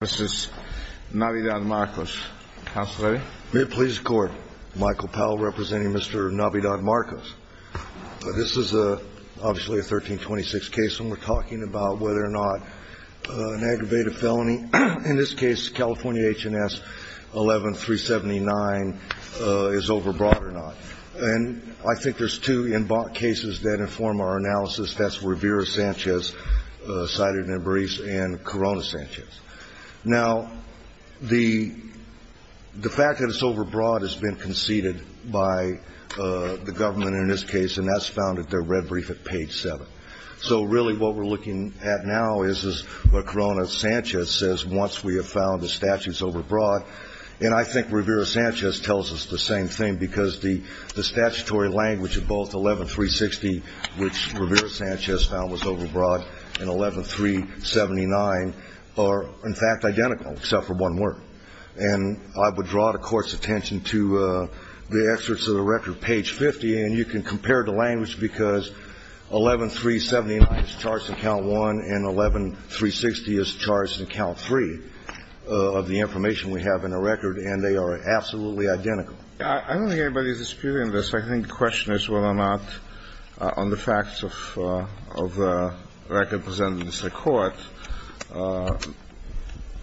representing Mr. Navidad Marcos. This is a obviously a 1326 case and we're talking about whether or not an aggravated felony, in this case California H&S 11379 is overbought or not. And I think there's two cases that inform our analysis, that's Rivera-Sanchez cited in Baris and Corona-Sanchez. Now, the fact that it's overbought has been conceded by the government in this case and that's found at their red brief at page 7. So really what we're looking at now is, as Corona-Sanchez says, once we have found the statute's overbought. And I think Rivera-Sanchez tells us the same thing because the statutory language of both 11360, which Rivera-Sanchez found was overbought, and 11379 are in fact identical except for one word. And I would draw the Court's attention to the excerpts of the record, page 50, and you can compare the language because 11379 is charged in count one and 11360 is charged in count three of the information we have in the record and they are absolutely identical. I don't think anybody is disputing this. I think the question is whether or not on the facts of the record presented in this Court,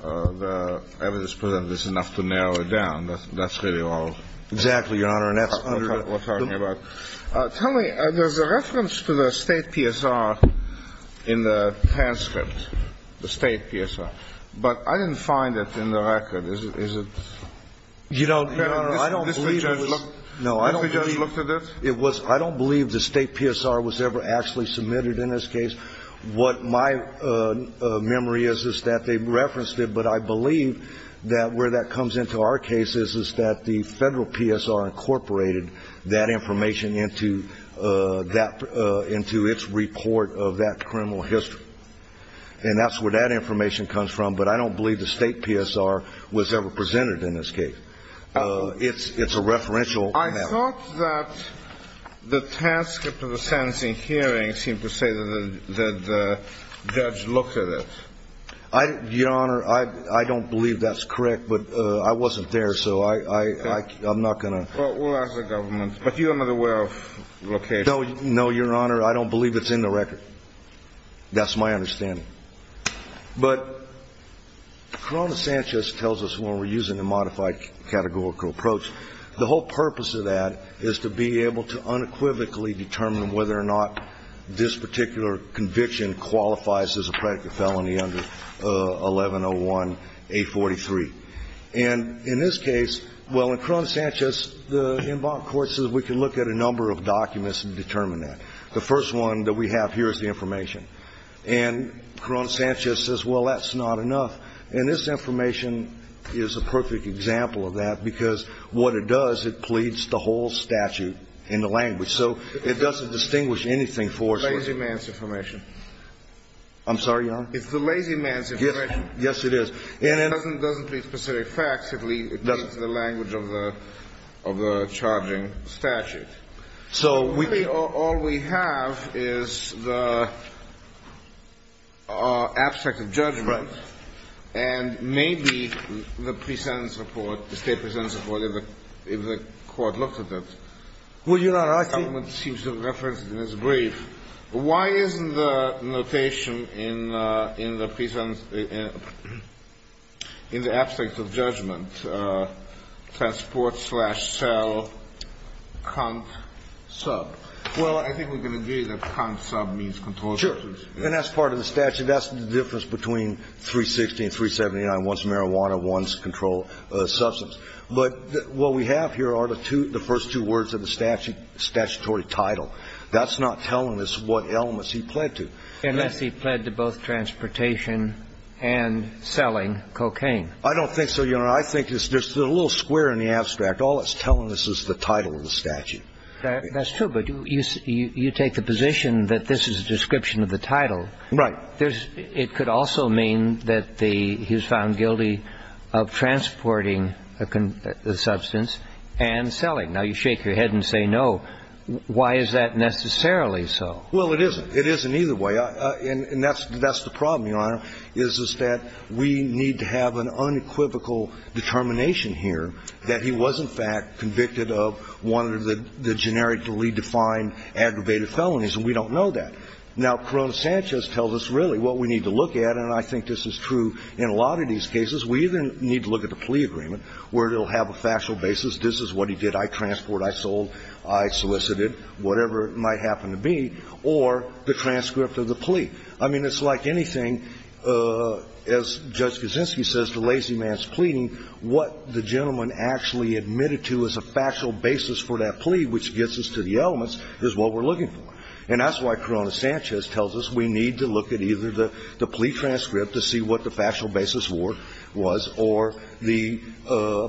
the evidence presented is enough to narrow it down. That's really all. Exactly, Your Honor. That's what we're talking about. Tell me, there's a reference to the State PSR in the transcript, the State PSR, but I didn't find it in the record. Is it? No, I don't believe the State PSR was ever actually submitted in this case. What my memory is is that they referenced it, but I believe that where that comes into our case is that the Federal PSR incorporated that information into its report of that criminal history. And that's where that information comes from, but I don't believe the State PSR was ever presented in this case. It's a referential. I thought that the transcript of the sentencing hearing seemed to say that the judge looked at it. Your Honor, I don't believe that's correct, but I wasn't there, so I'm not going to. We'll ask the government. But you are aware of location? No, Your Honor, I don't believe it's in the record. That's my understanding. But Corona Sanchez tells us when we're using a modified categorical approach, the whole purpose of that is to be able to unequivocally determine whether or not this particular conviction qualifies as a predicate felony under 1101-843. And in this case, well, in Corona Sanchez, the en banc court says we can look at a number of documents and determine that. The first one that we have here is the information. And Corona Sanchez says, well, that's not enough. And this information is a perfect example of that because what it does, it pleads the whole statute in the language. So it doesn't distinguish anything for us. It's the lazy man's information. I'm sorry, Your Honor? It's the lazy man's information. Yes, it is. It doesn't plead specific facts. It pleads the language of the charging statute. So we... Really, all we have is the abstract of judgment. Right. And maybe the pre-sentence report, the state pre-sentence report, if the court looks at that. Well, Your Honor, I think... The state pre-sentence report seems to have referenced it in its brief. Why isn't the notation in the pre-sentence, in the abstract of judgment, transport slash sell, cunt, sub? Well, I think we can agree that cunt, sub means controlled substance. Sure. And that's part of the statute. That's the difference between 316 and 379. One's marijuana, one's controlled substance. But what we have here are the first two words of the statutory title. That's not telling us what elements he pled to. Unless he pled to both transportation and selling cocaine. I don't think so, Your Honor. I think there's a little square in the abstract. All it's telling us is the title of the statute. That's true. But you take the position that this is a description of the title. Right. But it could also mean that he was found guilty of transporting the substance and selling. Now, you shake your head and say no. Why is that necessarily so? Well, it isn't. It isn't either way. And that's the problem, Your Honor, is that we need to have an unequivocal determination here that he was, in fact, convicted of one of the generically defined aggravated felonies. And we don't know that. Now, Corona Sanchez tells us really what we need to look at. And I think this is true in a lot of these cases. We either need to look at the plea agreement where it will have a factual basis. This is what he did. I transport, I sold, I solicited, whatever it might happen to be, or the transcript of the plea. I mean, it's like anything, as Judge Kuczynski says, the lazy man's pleading, what the gentleman actually admitted to as a factual basis for that plea, which gets us to the elements, is what we're looking for. And that's why Corona Sanchez tells us we need to look at either the plea transcript to see what the factual basis was or the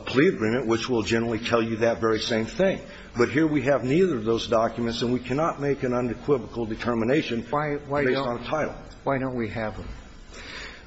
plea agreement, which will generally tell you that very same thing. But here we have neither of those documents, and we cannot make an unequivocal determination based on a title. Why don't we have them?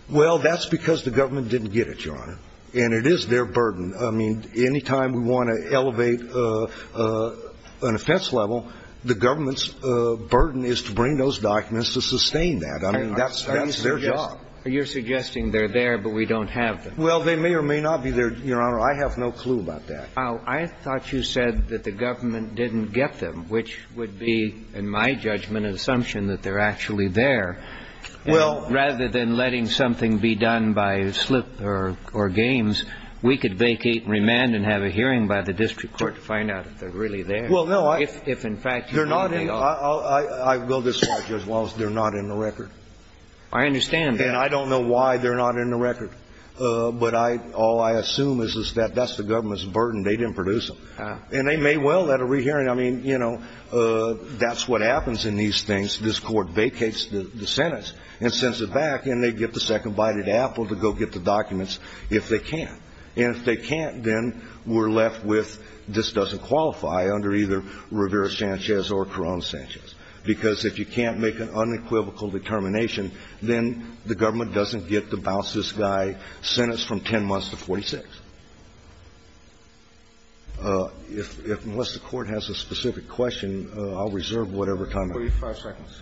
Well, that's because the government didn't get it, Your Honor. And it is their burden. I mean, any time we want to elevate an offense level, the government's burden is to bring those documents to sustain that. I mean, that's their job. You're suggesting they're there, but we don't have them. Well, they may or may not be there, Your Honor. I have no clue about that. Well, I thought you said that the government didn't get them, which would be, in my judgment, an assumption that they're actually there. Rather than letting something be done by slip or games, we could vacate, remand, and have a hearing by the district court to find out if they're really there. Well, no. If, in fact, they are. I'll go this way, Judge Wallace. They're not in the record. I understand that. And I don't know why they're not in the record. But all I assume is that that's the government's burden. They didn't produce them. And they may well let a rehearing. I mean, you know, that's what happens in these things. This court vacates the sentence and sends it back, and they get the second-bited apple to go get the documents if they can. And if they can't, then we're left with this doesn't qualify under either Rivera-Sanchez or Corona-Sanchez. Because if you can't make an unequivocal determination, then the government doesn't get to bounce this guy's sentence from 10 months to 46. Unless the court has a specific question, I'll reserve whatever time I have. 45 seconds.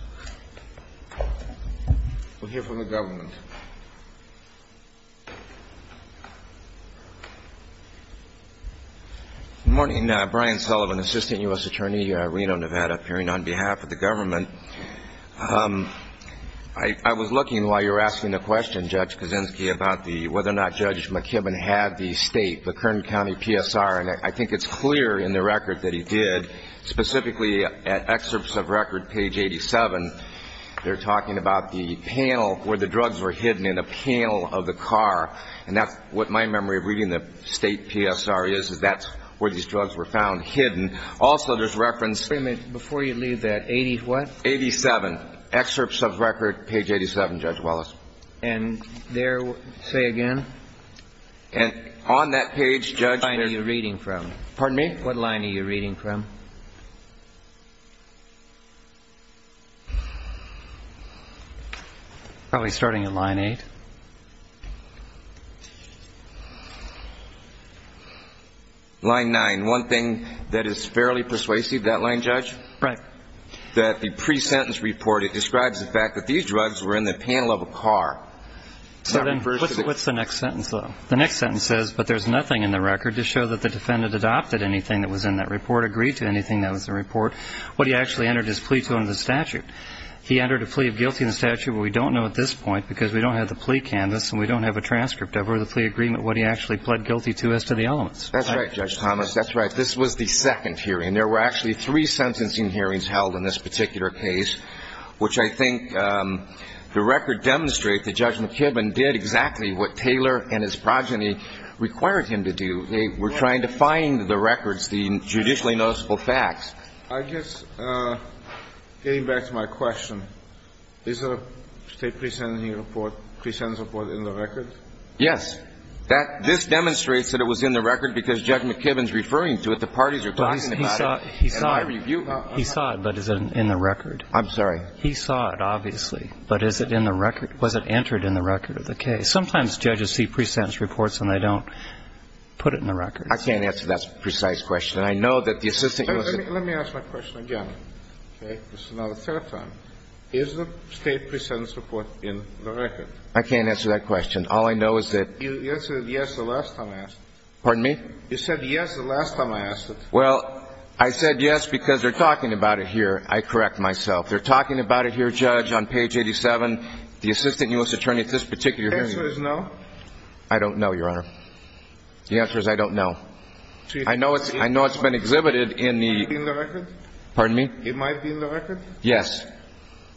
We'll hear from the government. Good morning. Brian Sullivan, assistant U.S. attorney here at Reno, Nevada, appearing on behalf of the government. I was looking while you were asking the question, Judge Kaczynski, about whether or not Judge McKibben had the state, the Kern County PSR. And I think it's clear in the record that he did, specifically at excerpts of record, page 87. They're talking about the panel where the drugs were hidden in a panel of the car. And that's what my memory of reading the state PSR is, is that's where these drugs were found, hidden. Also, there's reference to the state. Wait a minute. Before you leave that, 80 what? 87. Excerpts of record, page 87, Judge Wallace. And there, say again? And on that page, Judge. What line are you reading from? Pardon me? What line are you reading from? Probably starting at line 8. Line 9. One thing that is fairly persuasive, that line, Judge? Right. That the pre-sentence report, it describes the fact that these drugs were in the panel of a car. What's the next sentence, though? The next sentence says, but there's nothing in the record to show that the defendant adopted anything that was in that report, agreed to anything that was in the report. What he actually entered his plea to under the statute. He entered a plea of guilty in the statute, but we don't know at this point, because we don't have the plea canvas and we don't have a transcript of it, or the plea agreement, what he actually pled guilty to as to the elements. That's right, Judge Thomas. That's right. This was the second hearing. There were actually three sentencing hearings held in this particular case, which I think the record demonstrates that Judge McKibben did exactly what Taylor and his progeny required him to do. They were trying to find the records, the judicially noticeable facts. I guess, getting back to my question, is the state pre-sentence report in the record? Yes. This demonstrates that it was in the record, because Judge McKibben is referring to it. The parties are talking about it. He saw it. He saw it, but is it in the record? I'm sorry. He saw it, obviously. But is it in the record? Was it entered in the record of the case? Sometimes judges see pre-sentence reports and they don't put it in the record. I can't answer that precise question. I know that the Assistant Justice ---- Let me ask my question again, okay? This is now the third time. Is the state pre-sentence report in the record? I can't answer that question. All I know is that ---- You answered yes the last time I asked. Pardon me? You said yes the last time I asked it. Well, I said yes because they're talking about it here. I correct myself. They're talking about it here, Judge, on page 87. The Assistant U.S. Attorney at this particular hearing ---- The answer is no? I don't know, Your Honor. The answer is I don't know. I know it's been exhibited in the ---- It might be in the record? Pardon me? It might be in the record? Yes.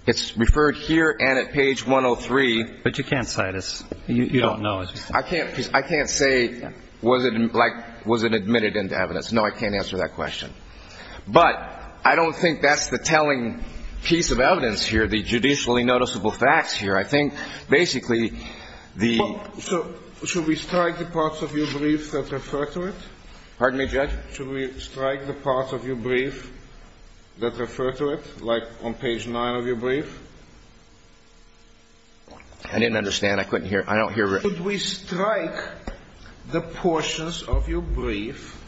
It's referred here and at page 103. But you can't cite us. You don't know. I can't say was it admitted into evidence. No, I can't answer that question. But I don't think that's the telling piece of evidence here, the judicially noticeable facts here. I think basically the ---- So should we strike the parts of your brief that refer to it? Pardon me, Judge? Should we strike the parts of your brief that refer to it, like on page 9 of your brief? I didn't understand. I couldn't hear. I don't hear ---- Should we strike the portions of your brief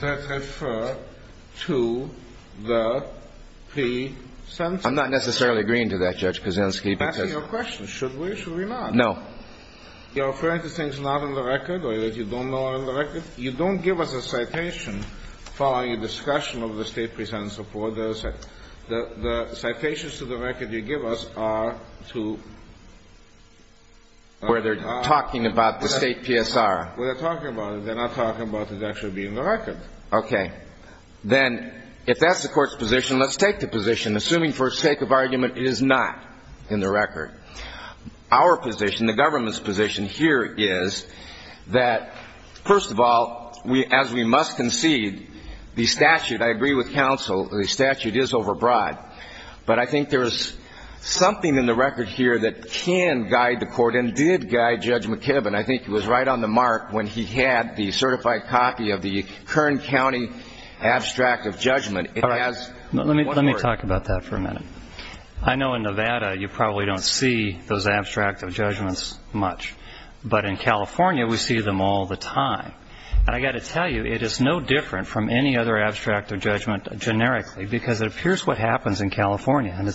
that refer to the pre-sentence? I'm not necessarily agreeing to that, Judge Kuczynski, because ---- I'm asking you a question. Should we or should we not? No. You're referring to things not in the record or that you don't know are in the record? You don't give us a citation following a discussion of the state pre-sentence of orders. The citations to the record you give us are to ---- Where they're talking about the state PSR. Where they're talking about it. They're not talking about it actually being in the record. Okay. Then if that's the Court's position, let's take the position, assuming for sake of argument it is not in the record. Our position, the government's position here is that, first of all, as we must concede, the statute, I agree with counsel, the statute is overbroad. But I think there is something in the record here that can guide the Court and did guide Judge McKibben. I think it was right on the mark when he had the certified copy of the Kern County abstract of judgment. It has ---- All right. Let me talk about that for a minute. I know in Nevada you probably don't see those abstract of judgments much. But in California we see them all the time. And I've got to tell you, it is no different from any other abstract of judgment generically because it appears what happens in California, and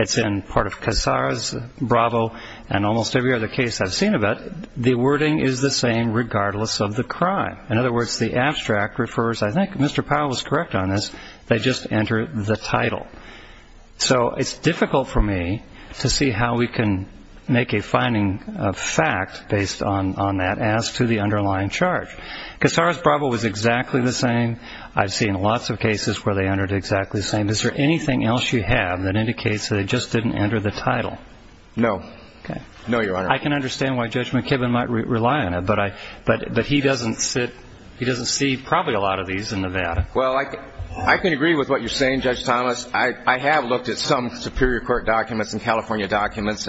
it's in part of Casar's, Bravo, and almost every other case I've seen of it, the wording is the same regardless of the crime. In other words, the abstract refers, I think Mr. Powell was correct on this, they just enter the title. So it's difficult for me to see how we can make a finding of fact based on that as to the underlying charge. Casar's, Bravo, was exactly the same. I've seen lots of cases where they entered exactly the same. Is there anything else you have that indicates they just didn't enter the title? No. Okay. No, Your Honor. I can understand why Judge McKibben might rely on it, but he doesn't sit, he doesn't see probably a lot of these in Nevada. Well, I can agree with what you're saying, Judge Thomas. I have looked at some Superior Court documents and California documents.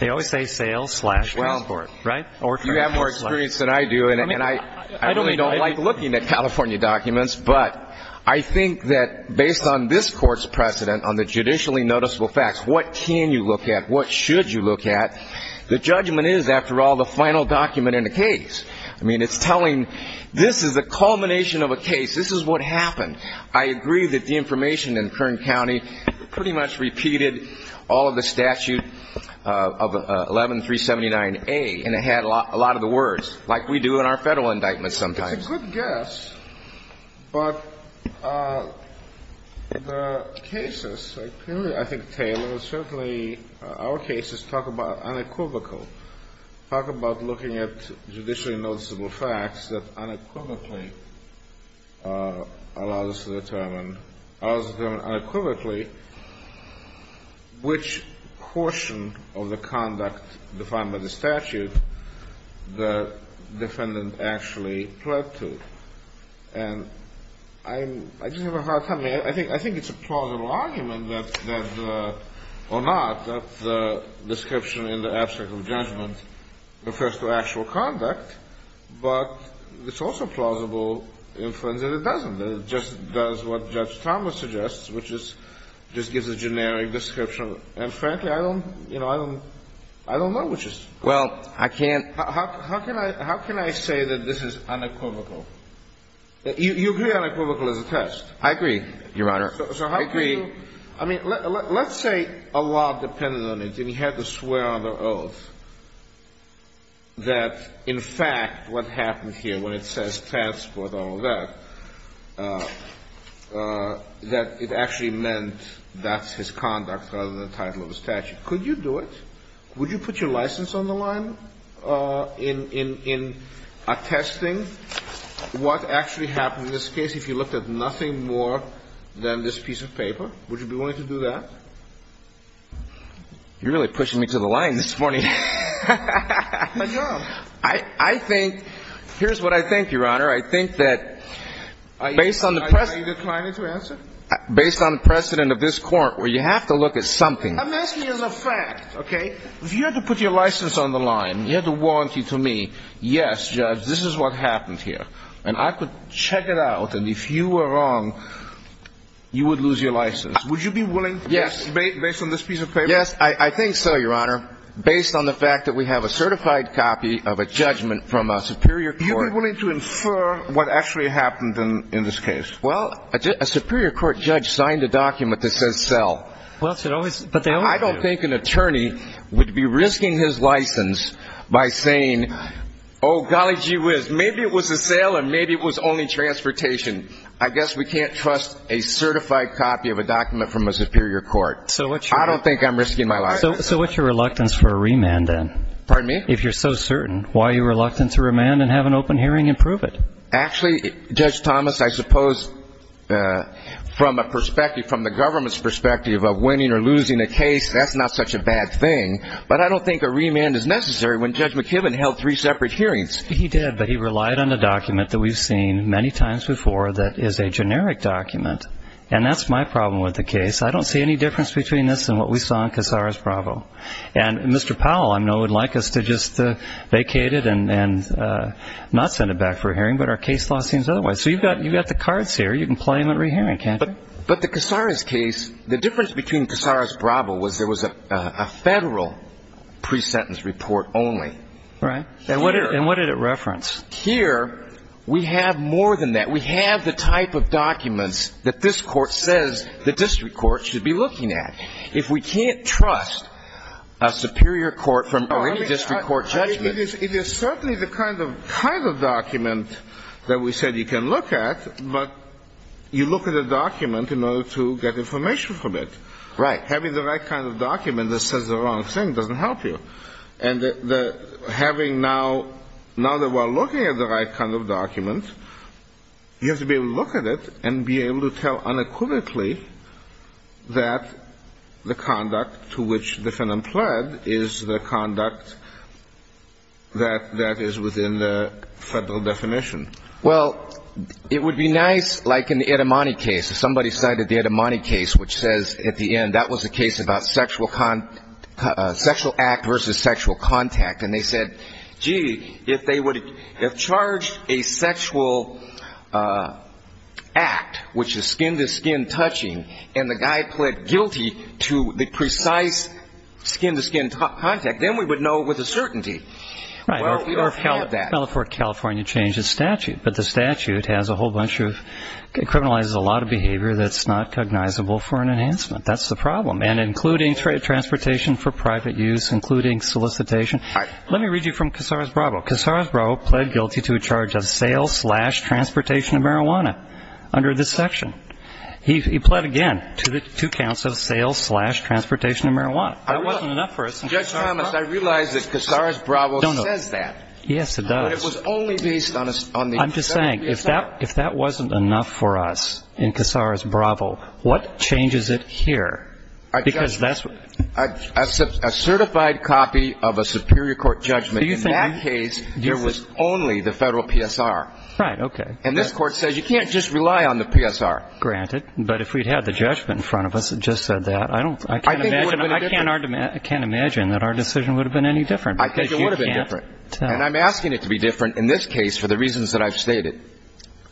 They always say sales slash case court, right? You have more experience than I do, and I really don't like looking at California documents. But I think that based on this Court's precedent on the judicially noticeable facts, what can you look at, what should you look at, the judgment is, after all, the final document in the case. I mean, it's telling, this is the culmination of a case. This is what happened. I agree that the information in Kern County pretty much repeated all of the statute of 11379A, and it had a lot of the words, like we do in our Federal indictments sometimes. It's a good guess, but the cases, I think Taylor, certainly our cases talk about unequivocal, talk about looking at judicially noticeable facts that unequivocally allows us to determine, allows us to determine unequivocally which portion of the conduct defined by the statute the defendant actually pled to. And I just have a hard time. I mean, I think it's a plausible argument that, or not, that the description in the abstract of judgment refers to actual conduct, but it's also plausible inference that it doesn't. It just does what Judge Thomas suggests, which is just gives a generic description. And frankly, I don't, you know, I don't know which is. Well, I can't. How can I say that this is unequivocal? You agree unequivocal is a test. I agree, Your Honor. I agree. I mean, let's say a law depended on it and he had to swear under oath that, in fact, what happened here when it says transport, all of that, that it actually meant that's his conduct rather than the title of the statute. Could you do it? Would you put your license on the line in attesting what actually happened in this case? If you looked at nothing more than this piece of paper, would you be willing to do that? You're really pushing me to the line this morning. My job. I think, here's what I think, Your Honor. I think that based on the precedent. Are you declining to answer? Based on the precedent of this court where you have to look at something. I'm asking you as a fact, okay? If you had to put your license on the line, you had to warrantee to me, yes, Judge, this is what happened here. And I could check it out. And if you were wrong, you would lose your license. Would you be willing, based on this piece of paper? Yes. I think so, Your Honor. Based on the fact that we have a certified copy of a judgment from a superior court. Would you be willing to infer what actually happened in this case? Well, a superior court judge signed a document that says sell. Well, but they always do. I don't think an attorney would be risking his license by saying, oh, golly gee whiz, maybe it was a sale and maybe it was only transportation. I guess we can't trust a certified copy of a document from a superior court. I don't think I'm risking my license. So what's your reluctance for a remand then? Pardon me? If you're so certain, why are you reluctant to remand and have an open hearing and prove it? Actually, Judge Thomas, I suppose from a perspective, from the government's perspective of winning or losing a case, that's not such a bad thing. But I don't think a remand is necessary when Judge McKibben held three separate hearings. He did, but he relied on a document that we've seen many times before that is a generic document. And that's my problem with the case. I don't see any difference between this and what we saw in Casar's Bravo. And Mr. Powell, I know, would like us to just vacate it and not send it back for a hearing, but our case law seems otherwise. So you've got the cards here. You can play them at re-hearing, can't you? But the Casar's case, the difference between Casar's Bravo was there was a federal pre-sentence report only. Right. And what did it reference? Here we have more than that. We have the type of documents that this court says the district court should be looking at. If we can't trust a superior court from any district court judgment. It is certainly the kind of document that we said you can look at, but you look at a document in order to get information from it. Right. Having the right kind of document that says the wrong thing doesn't help you. And having now, now that we're looking at the right kind of document, you have to be able to look at it and be able to tell unequivocally that the conduct to which the defendant pled is the conduct that is within the federal definition. Well, it would be nice, like in the Edamone case. Somebody cited the Edamone case, which says at the end that was a case about sexual act versus sexual contact. And they said, gee, if they would have charged a sexual act, which is skin-to-skin touching, and the guy pled guilty to the precise skin-to-skin contact, then we would know with a certainty. Well, we don't have that. California changed its statute, but the statute has a whole bunch of, criminalizes a lot of behavior that's not cognizable for an enhancement. That's the problem. And including transportation for private use, including solicitation. All right. Let me read you from Casares-Bravo. Casares-Bravo pled guilty to a charge of sales-slash-transportation of marijuana under this section. He pled again to the two counts of sales-slash-transportation of marijuana. That wasn't enough for us. Judge Thomas, I realize that Casares-Bravo says that. Yes, it does. But it was only based on the federal PSR. I'm just saying, if that wasn't enough for us in Casares-Bravo, what changes it here? A certified copy of a superior court judgment. In that case, there was only the federal PSR. Right. Okay. And this Court says you can't just rely on the PSR. Granted. But if we'd had the judgment in front of us that just said that, I can't imagine that our decision would have been any different. I think it would have been different. And I'm asking it to be different in this case for the reasons that I've stated,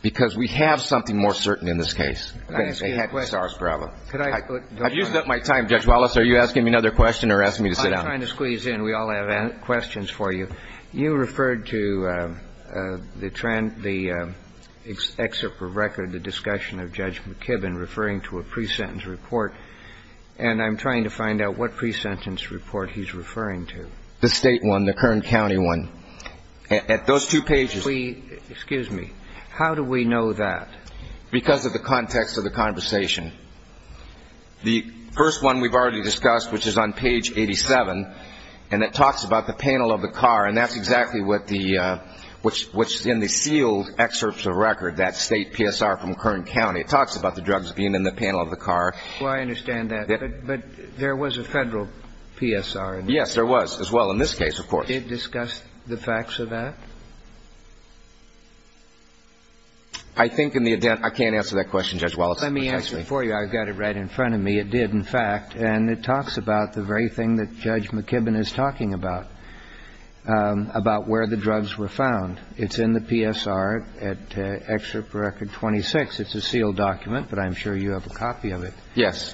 because we have something more certain in this case. I'm going to say happy Casares-Bravo. I've used up my time, Judge Wallace. Are you asking me another question or asking me to sit down? I'm trying to squeeze in. We all have questions for you. You referred to the excerpt from record, the discussion of Judge McKibbin referring to a pre-sentence report. And I'm trying to find out what pre-sentence report he's referring to. The state one, the Kern County one. Those two pages. Excuse me. How do we know that? Because of the context of the conversation. The first one we've already discussed, which is on page 87, and it talks about the panel of the car. And that's exactly what the ‑‑ which in the sealed excerpts of record, that state PSR from Kern County, it talks about the drugs being in the panel of the car. Oh, I understand that. But there was a federal PSR. Yes, there was as well in this case, of course. Did it discuss the facts of that? I think in the ‑‑ I can't answer that question, Judge Wallace. Let me answer it for you. I've got it right in front of me. It did, in fact. And it talks about the very thing that Judge McKibbin is talking about, about where the drugs were found. It's in the PSR at excerpt for record 26. It's a sealed document, but I'm sure you have a copy of it. Yes.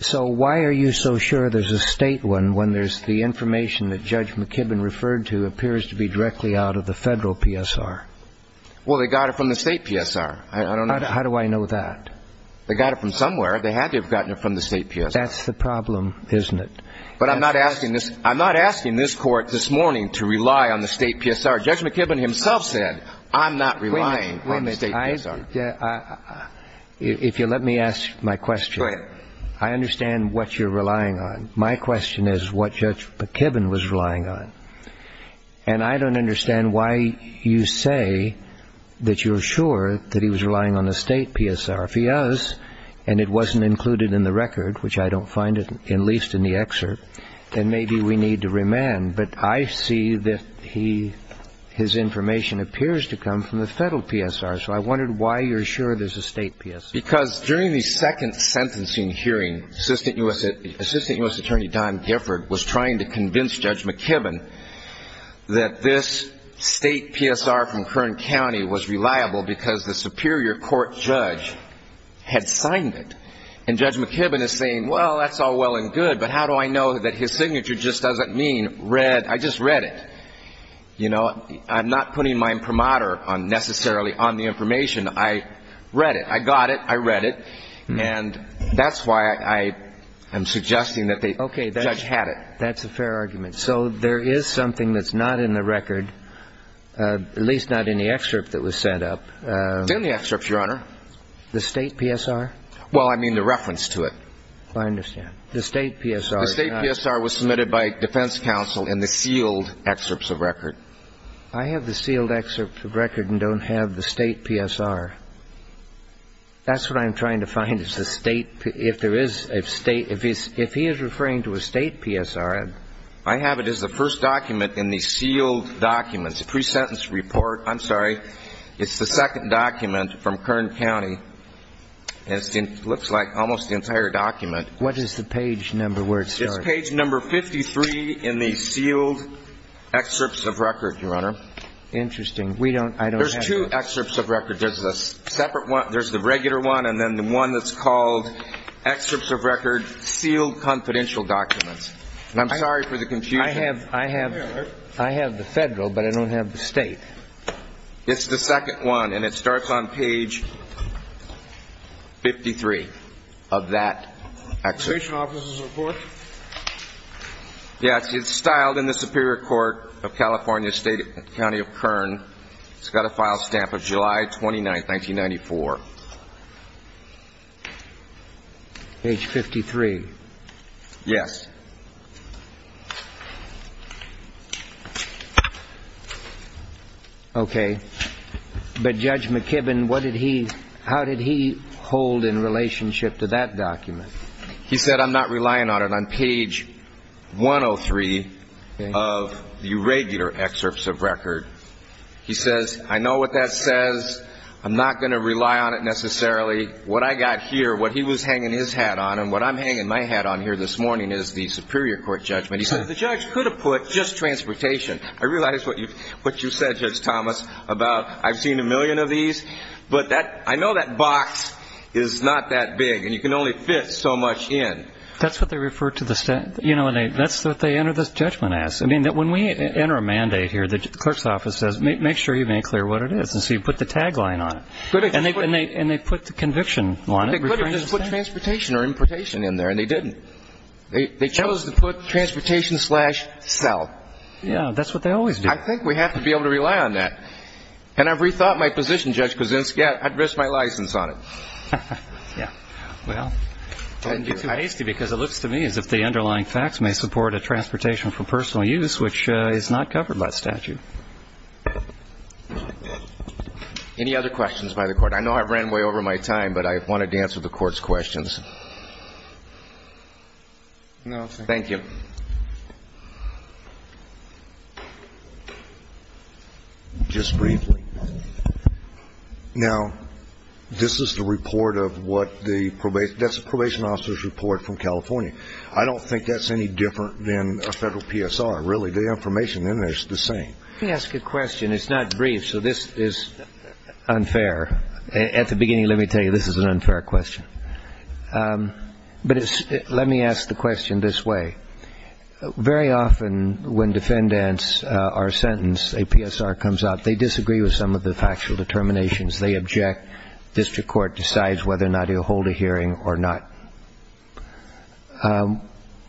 So why are you so sure there's a state one when there's the information that Judge McKibbin referred to appears to be directly out of the federal PSR? Well, they got it from the state PSR. How do I know that? They got it from somewhere. They had to have gotten it from the state PSR. That's the problem, isn't it? But I'm not asking this court this morning to rely on the state PSR. Judge McKibbin himself said, I'm not relying on the state PSR. If you'll let me ask my question. Go ahead. I understand what you're relying on. My question is what Judge McKibbin was relying on, and I don't understand why you say that you're sure that he was relying on the state PSR. If he was and it wasn't included in the record, which I don't find at least in the excerpt, then maybe we need to remand. But I see that his information appears to come from the federal PSR, so I wondered why you're sure there's a state PSR. Because during the second sentencing hearing, Assistant U.S. Attorney Don Gifford was trying to convince Judge McKibbin that this state PSR from Kern County was reliable because the superior court judge had signed it. And Judge McKibbin is saying, well, that's all well and good, but how do I know that his signature just doesn't mean read, I just read it. I'm not putting my imprimatur necessarily on the information. I read it. I got it. I read it. And that's why I am suggesting that the judge had it. Okay. That's a fair argument. So there is something that's not in the record, at least not in the excerpt that was set up. It's in the excerpt, Your Honor. The state PSR? Well, I mean the reference to it. I understand. The state PSR. The state PSR was submitted by defense counsel in the sealed excerpts of record. I have the sealed excerpts of record and don't have the state PSR. That's what I'm trying to find is the state, if there is a state, if he is referring to a state PSR. I have it as the first document in the sealed documents, pre-sentence report. I'm sorry. It's the second document from Kern County. It looks like almost the entire document. What is the page number where it starts? It's page number 53 in the sealed excerpts of record, Your Honor. Interesting. I don't have it. There's two excerpts of record. There's the regular one and then the one that's called excerpts of record, sealed confidential documents. I'm sorry for the confusion. I have the federal, but I don't have the state. It's the second one, and it starts on page 53 of that excerpt. Information officer's report? Yes. It's styled in the Superior Court of California State County of Kern. It's got a file stamp of July 29, 1994. Page 53. Yes. Okay. But Judge McKibbin, what did he ñ how did he hold in relationship to that document? He said, I'm not relying on it. On page 103 of the regular excerpts of record, he says, I know what that says. I'm not going to rely on it necessarily. What I got here, what he was hanging his hat on and what I'm hanging my hat on here this morning is the Superior Court judgment. He says, the judge could have put just transportation. I realize what you said, Judge Thomas, about I've seen a million of these, but I know that box is not that big, and you can only fit so much in. That's what they refer to the ñ you know, that's what they enter this judgment as. I mean, when we enter a mandate here, the clerk's office says, make sure you make clear what it is. And so you put the tagline on it. And they put the conviction on it. They could have just put transportation or importation in there, and they didn't. They chose to put transportation slash sell. Yeah. That's what they always do. I think we have to be able to rely on that. And I've rethought my position, Judge Kuczynski. I'd risk my license on it. Yeah. Well, don't get too hasty because it looks to me as if the underlying facts may support a transportation for personal use, which is not covered by statute. Any other questions by the Court? I know I've ran way over my time, but I wanted to answer the Court's questions. No, sir. Thank you. Just briefly. Now, this is the report of what the ñ that's the probation officer's report from California. I don't think that's any different than a federal PSR, really. The information in there is the same. Let me ask you a question. It's not brief, so this is unfair. At the beginning, let me tell you, this is an unfair question. But let me ask the question this way. Very often when defendants are sentenced, a PSR comes out. They disagree with some of the factual determinations. They object. District Court decides whether or not you'll hold a hearing or not.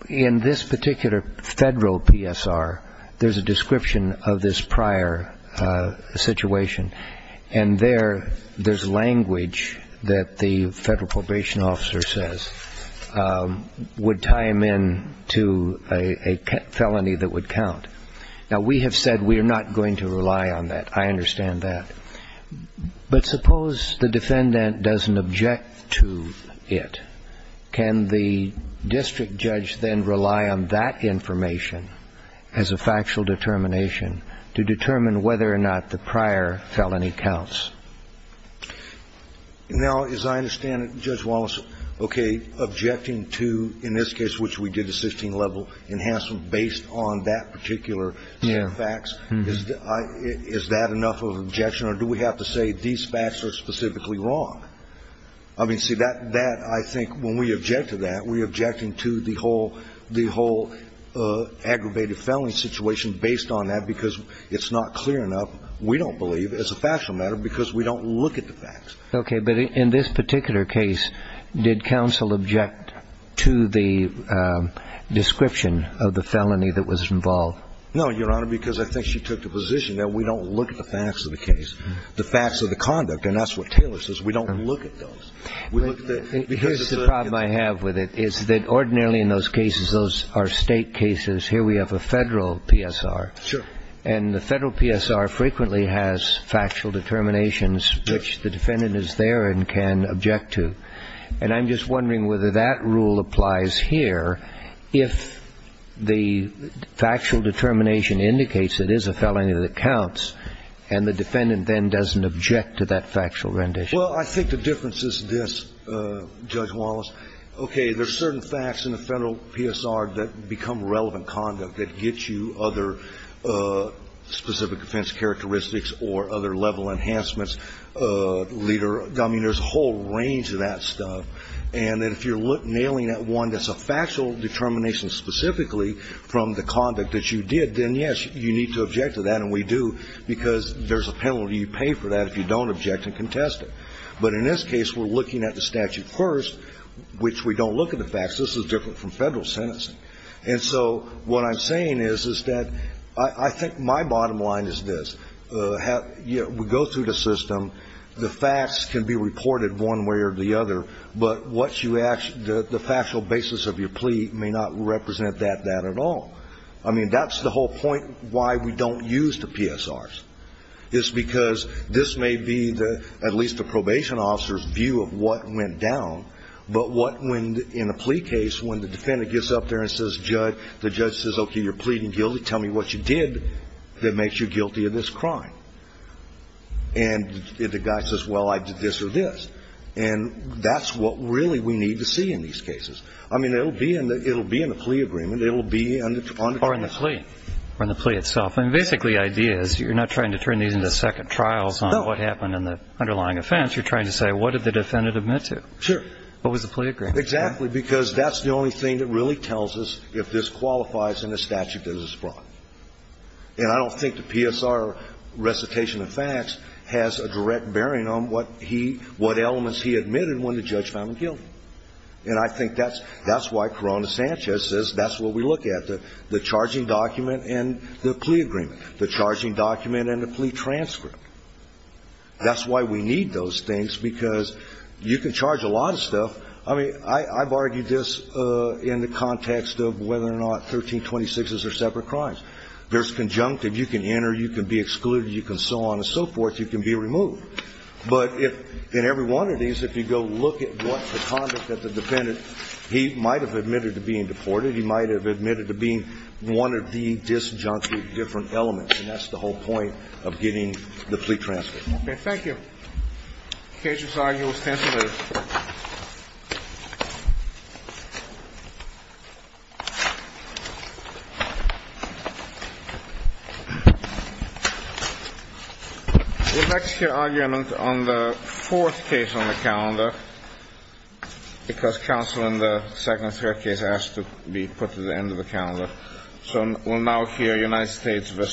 In this particular federal PSR, there's a description of this prior situation. And there, there's language that the federal probation officer says would tie him in to a felony that would count. Now, we have said we are not going to rely on that. I understand that. But suppose the defendant doesn't object to it. Can the district judge then rely on that information as a factual determination to determine whether or not the prior felony counts? Now, as I understand it, Judge Wallace, okay, objecting to, in this case, which we did, a 16-level enhancement based on that particular set of facts, is that enough of an objection? Or do we have to say these facts are specifically wrong? I mean, see, that, I think, when we object to that, we're objecting to the whole aggravated felony situation based on that because it's not clear enough, we don't believe, as a factual matter, because we don't look at the facts. Okay. But in this particular case, did counsel object to the description of the felony that was involved? No, Your Honor, because I think she took the position that we don't look at the facts of the case, the facts of the conduct. And that's what Taylor says. We don't look at those. We look at the specificity. Here's the problem I have with it, is that ordinarily in those cases, those are State cases. Here we have a Federal PSR. Sure. And the Federal PSR frequently has factual determinations which the defendant is there and can object to. And I'm just wondering whether that rule applies here. If the factual determination indicates it is a felony that counts and the defendant then doesn't object to that factual rendition. Well, I think the difference is this, Judge Wallace. Okay. There's certain facts in the Federal PSR that become relevant conduct that gets you other specific offense characteristics or other level enhancements, leader. I mean, there's a whole range of that stuff. And if you're nailing that one that's a factual determination specifically from the conduct that you did, then, yes, you need to object to that, and we do, because there's a penalty you pay for that if you don't object and contest it. But in this case, we're looking at the statute first, which we don't look at the facts. This is different from Federal sentencing. And so what I'm saying is, is that I think my bottom line is this. You know, we go through the system. The facts can be reported one way or the other, but what you ask, the factual basis of your plea may not represent that, that at all. I mean, that's the whole point why we don't use the PSRs. It's because this may be the, at least the probation officer's view of what went down, but what when, in a plea case, when the defendant gets up there and says, judge, the judge says, okay, you're pleading guilty. Tell me what you did that makes you guilty of this crime. And the guy says, well, I did this or this. And that's what really we need to see in these cases. I mean, it will be in the plea agreement. It will be on the case. But it's not in the plea. Or in the plea itself. I mean, basically the idea is you're not trying to turn these into second trials on what happened in the underlying offense. You're trying to say what did the defendant admit to. Sure. What was the plea agreement. Exactly, because that's the only thing that really tells us if this qualifies in the statute that it's brought. And I don't think the PSR recitation of facts has a direct bearing on what he, what elements he admitted when the judge found him guilty. And I think that's why Corona Sanchez says that's what we look at, the charging document and the plea agreement. The charging document and the plea transcript. That's why we need those things, because you can charge a lot of stuff. I mean, I've argued this in the context of whether or not 1326s are separate crimes. There's conjunctive. You can enter. You can be excluded. You can so on and so forth. You can be removed. But if in every one of these, if you go look at what the conduct of the defendant, he might have admitted to being deported. He might have admitted to being one of the disjunctive different elements. And that's the whole point of getting the plea transcript. Okay. Thank you. The case is argued ostensibly. The next argument on the fourth case on the calendar, because counsel in the second third case has to be put to the end of the calendar. So we'll now hear United States v.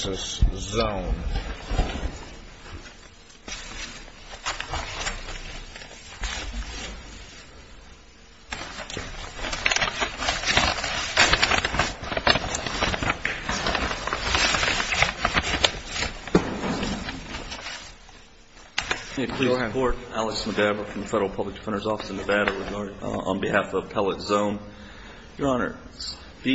Zone.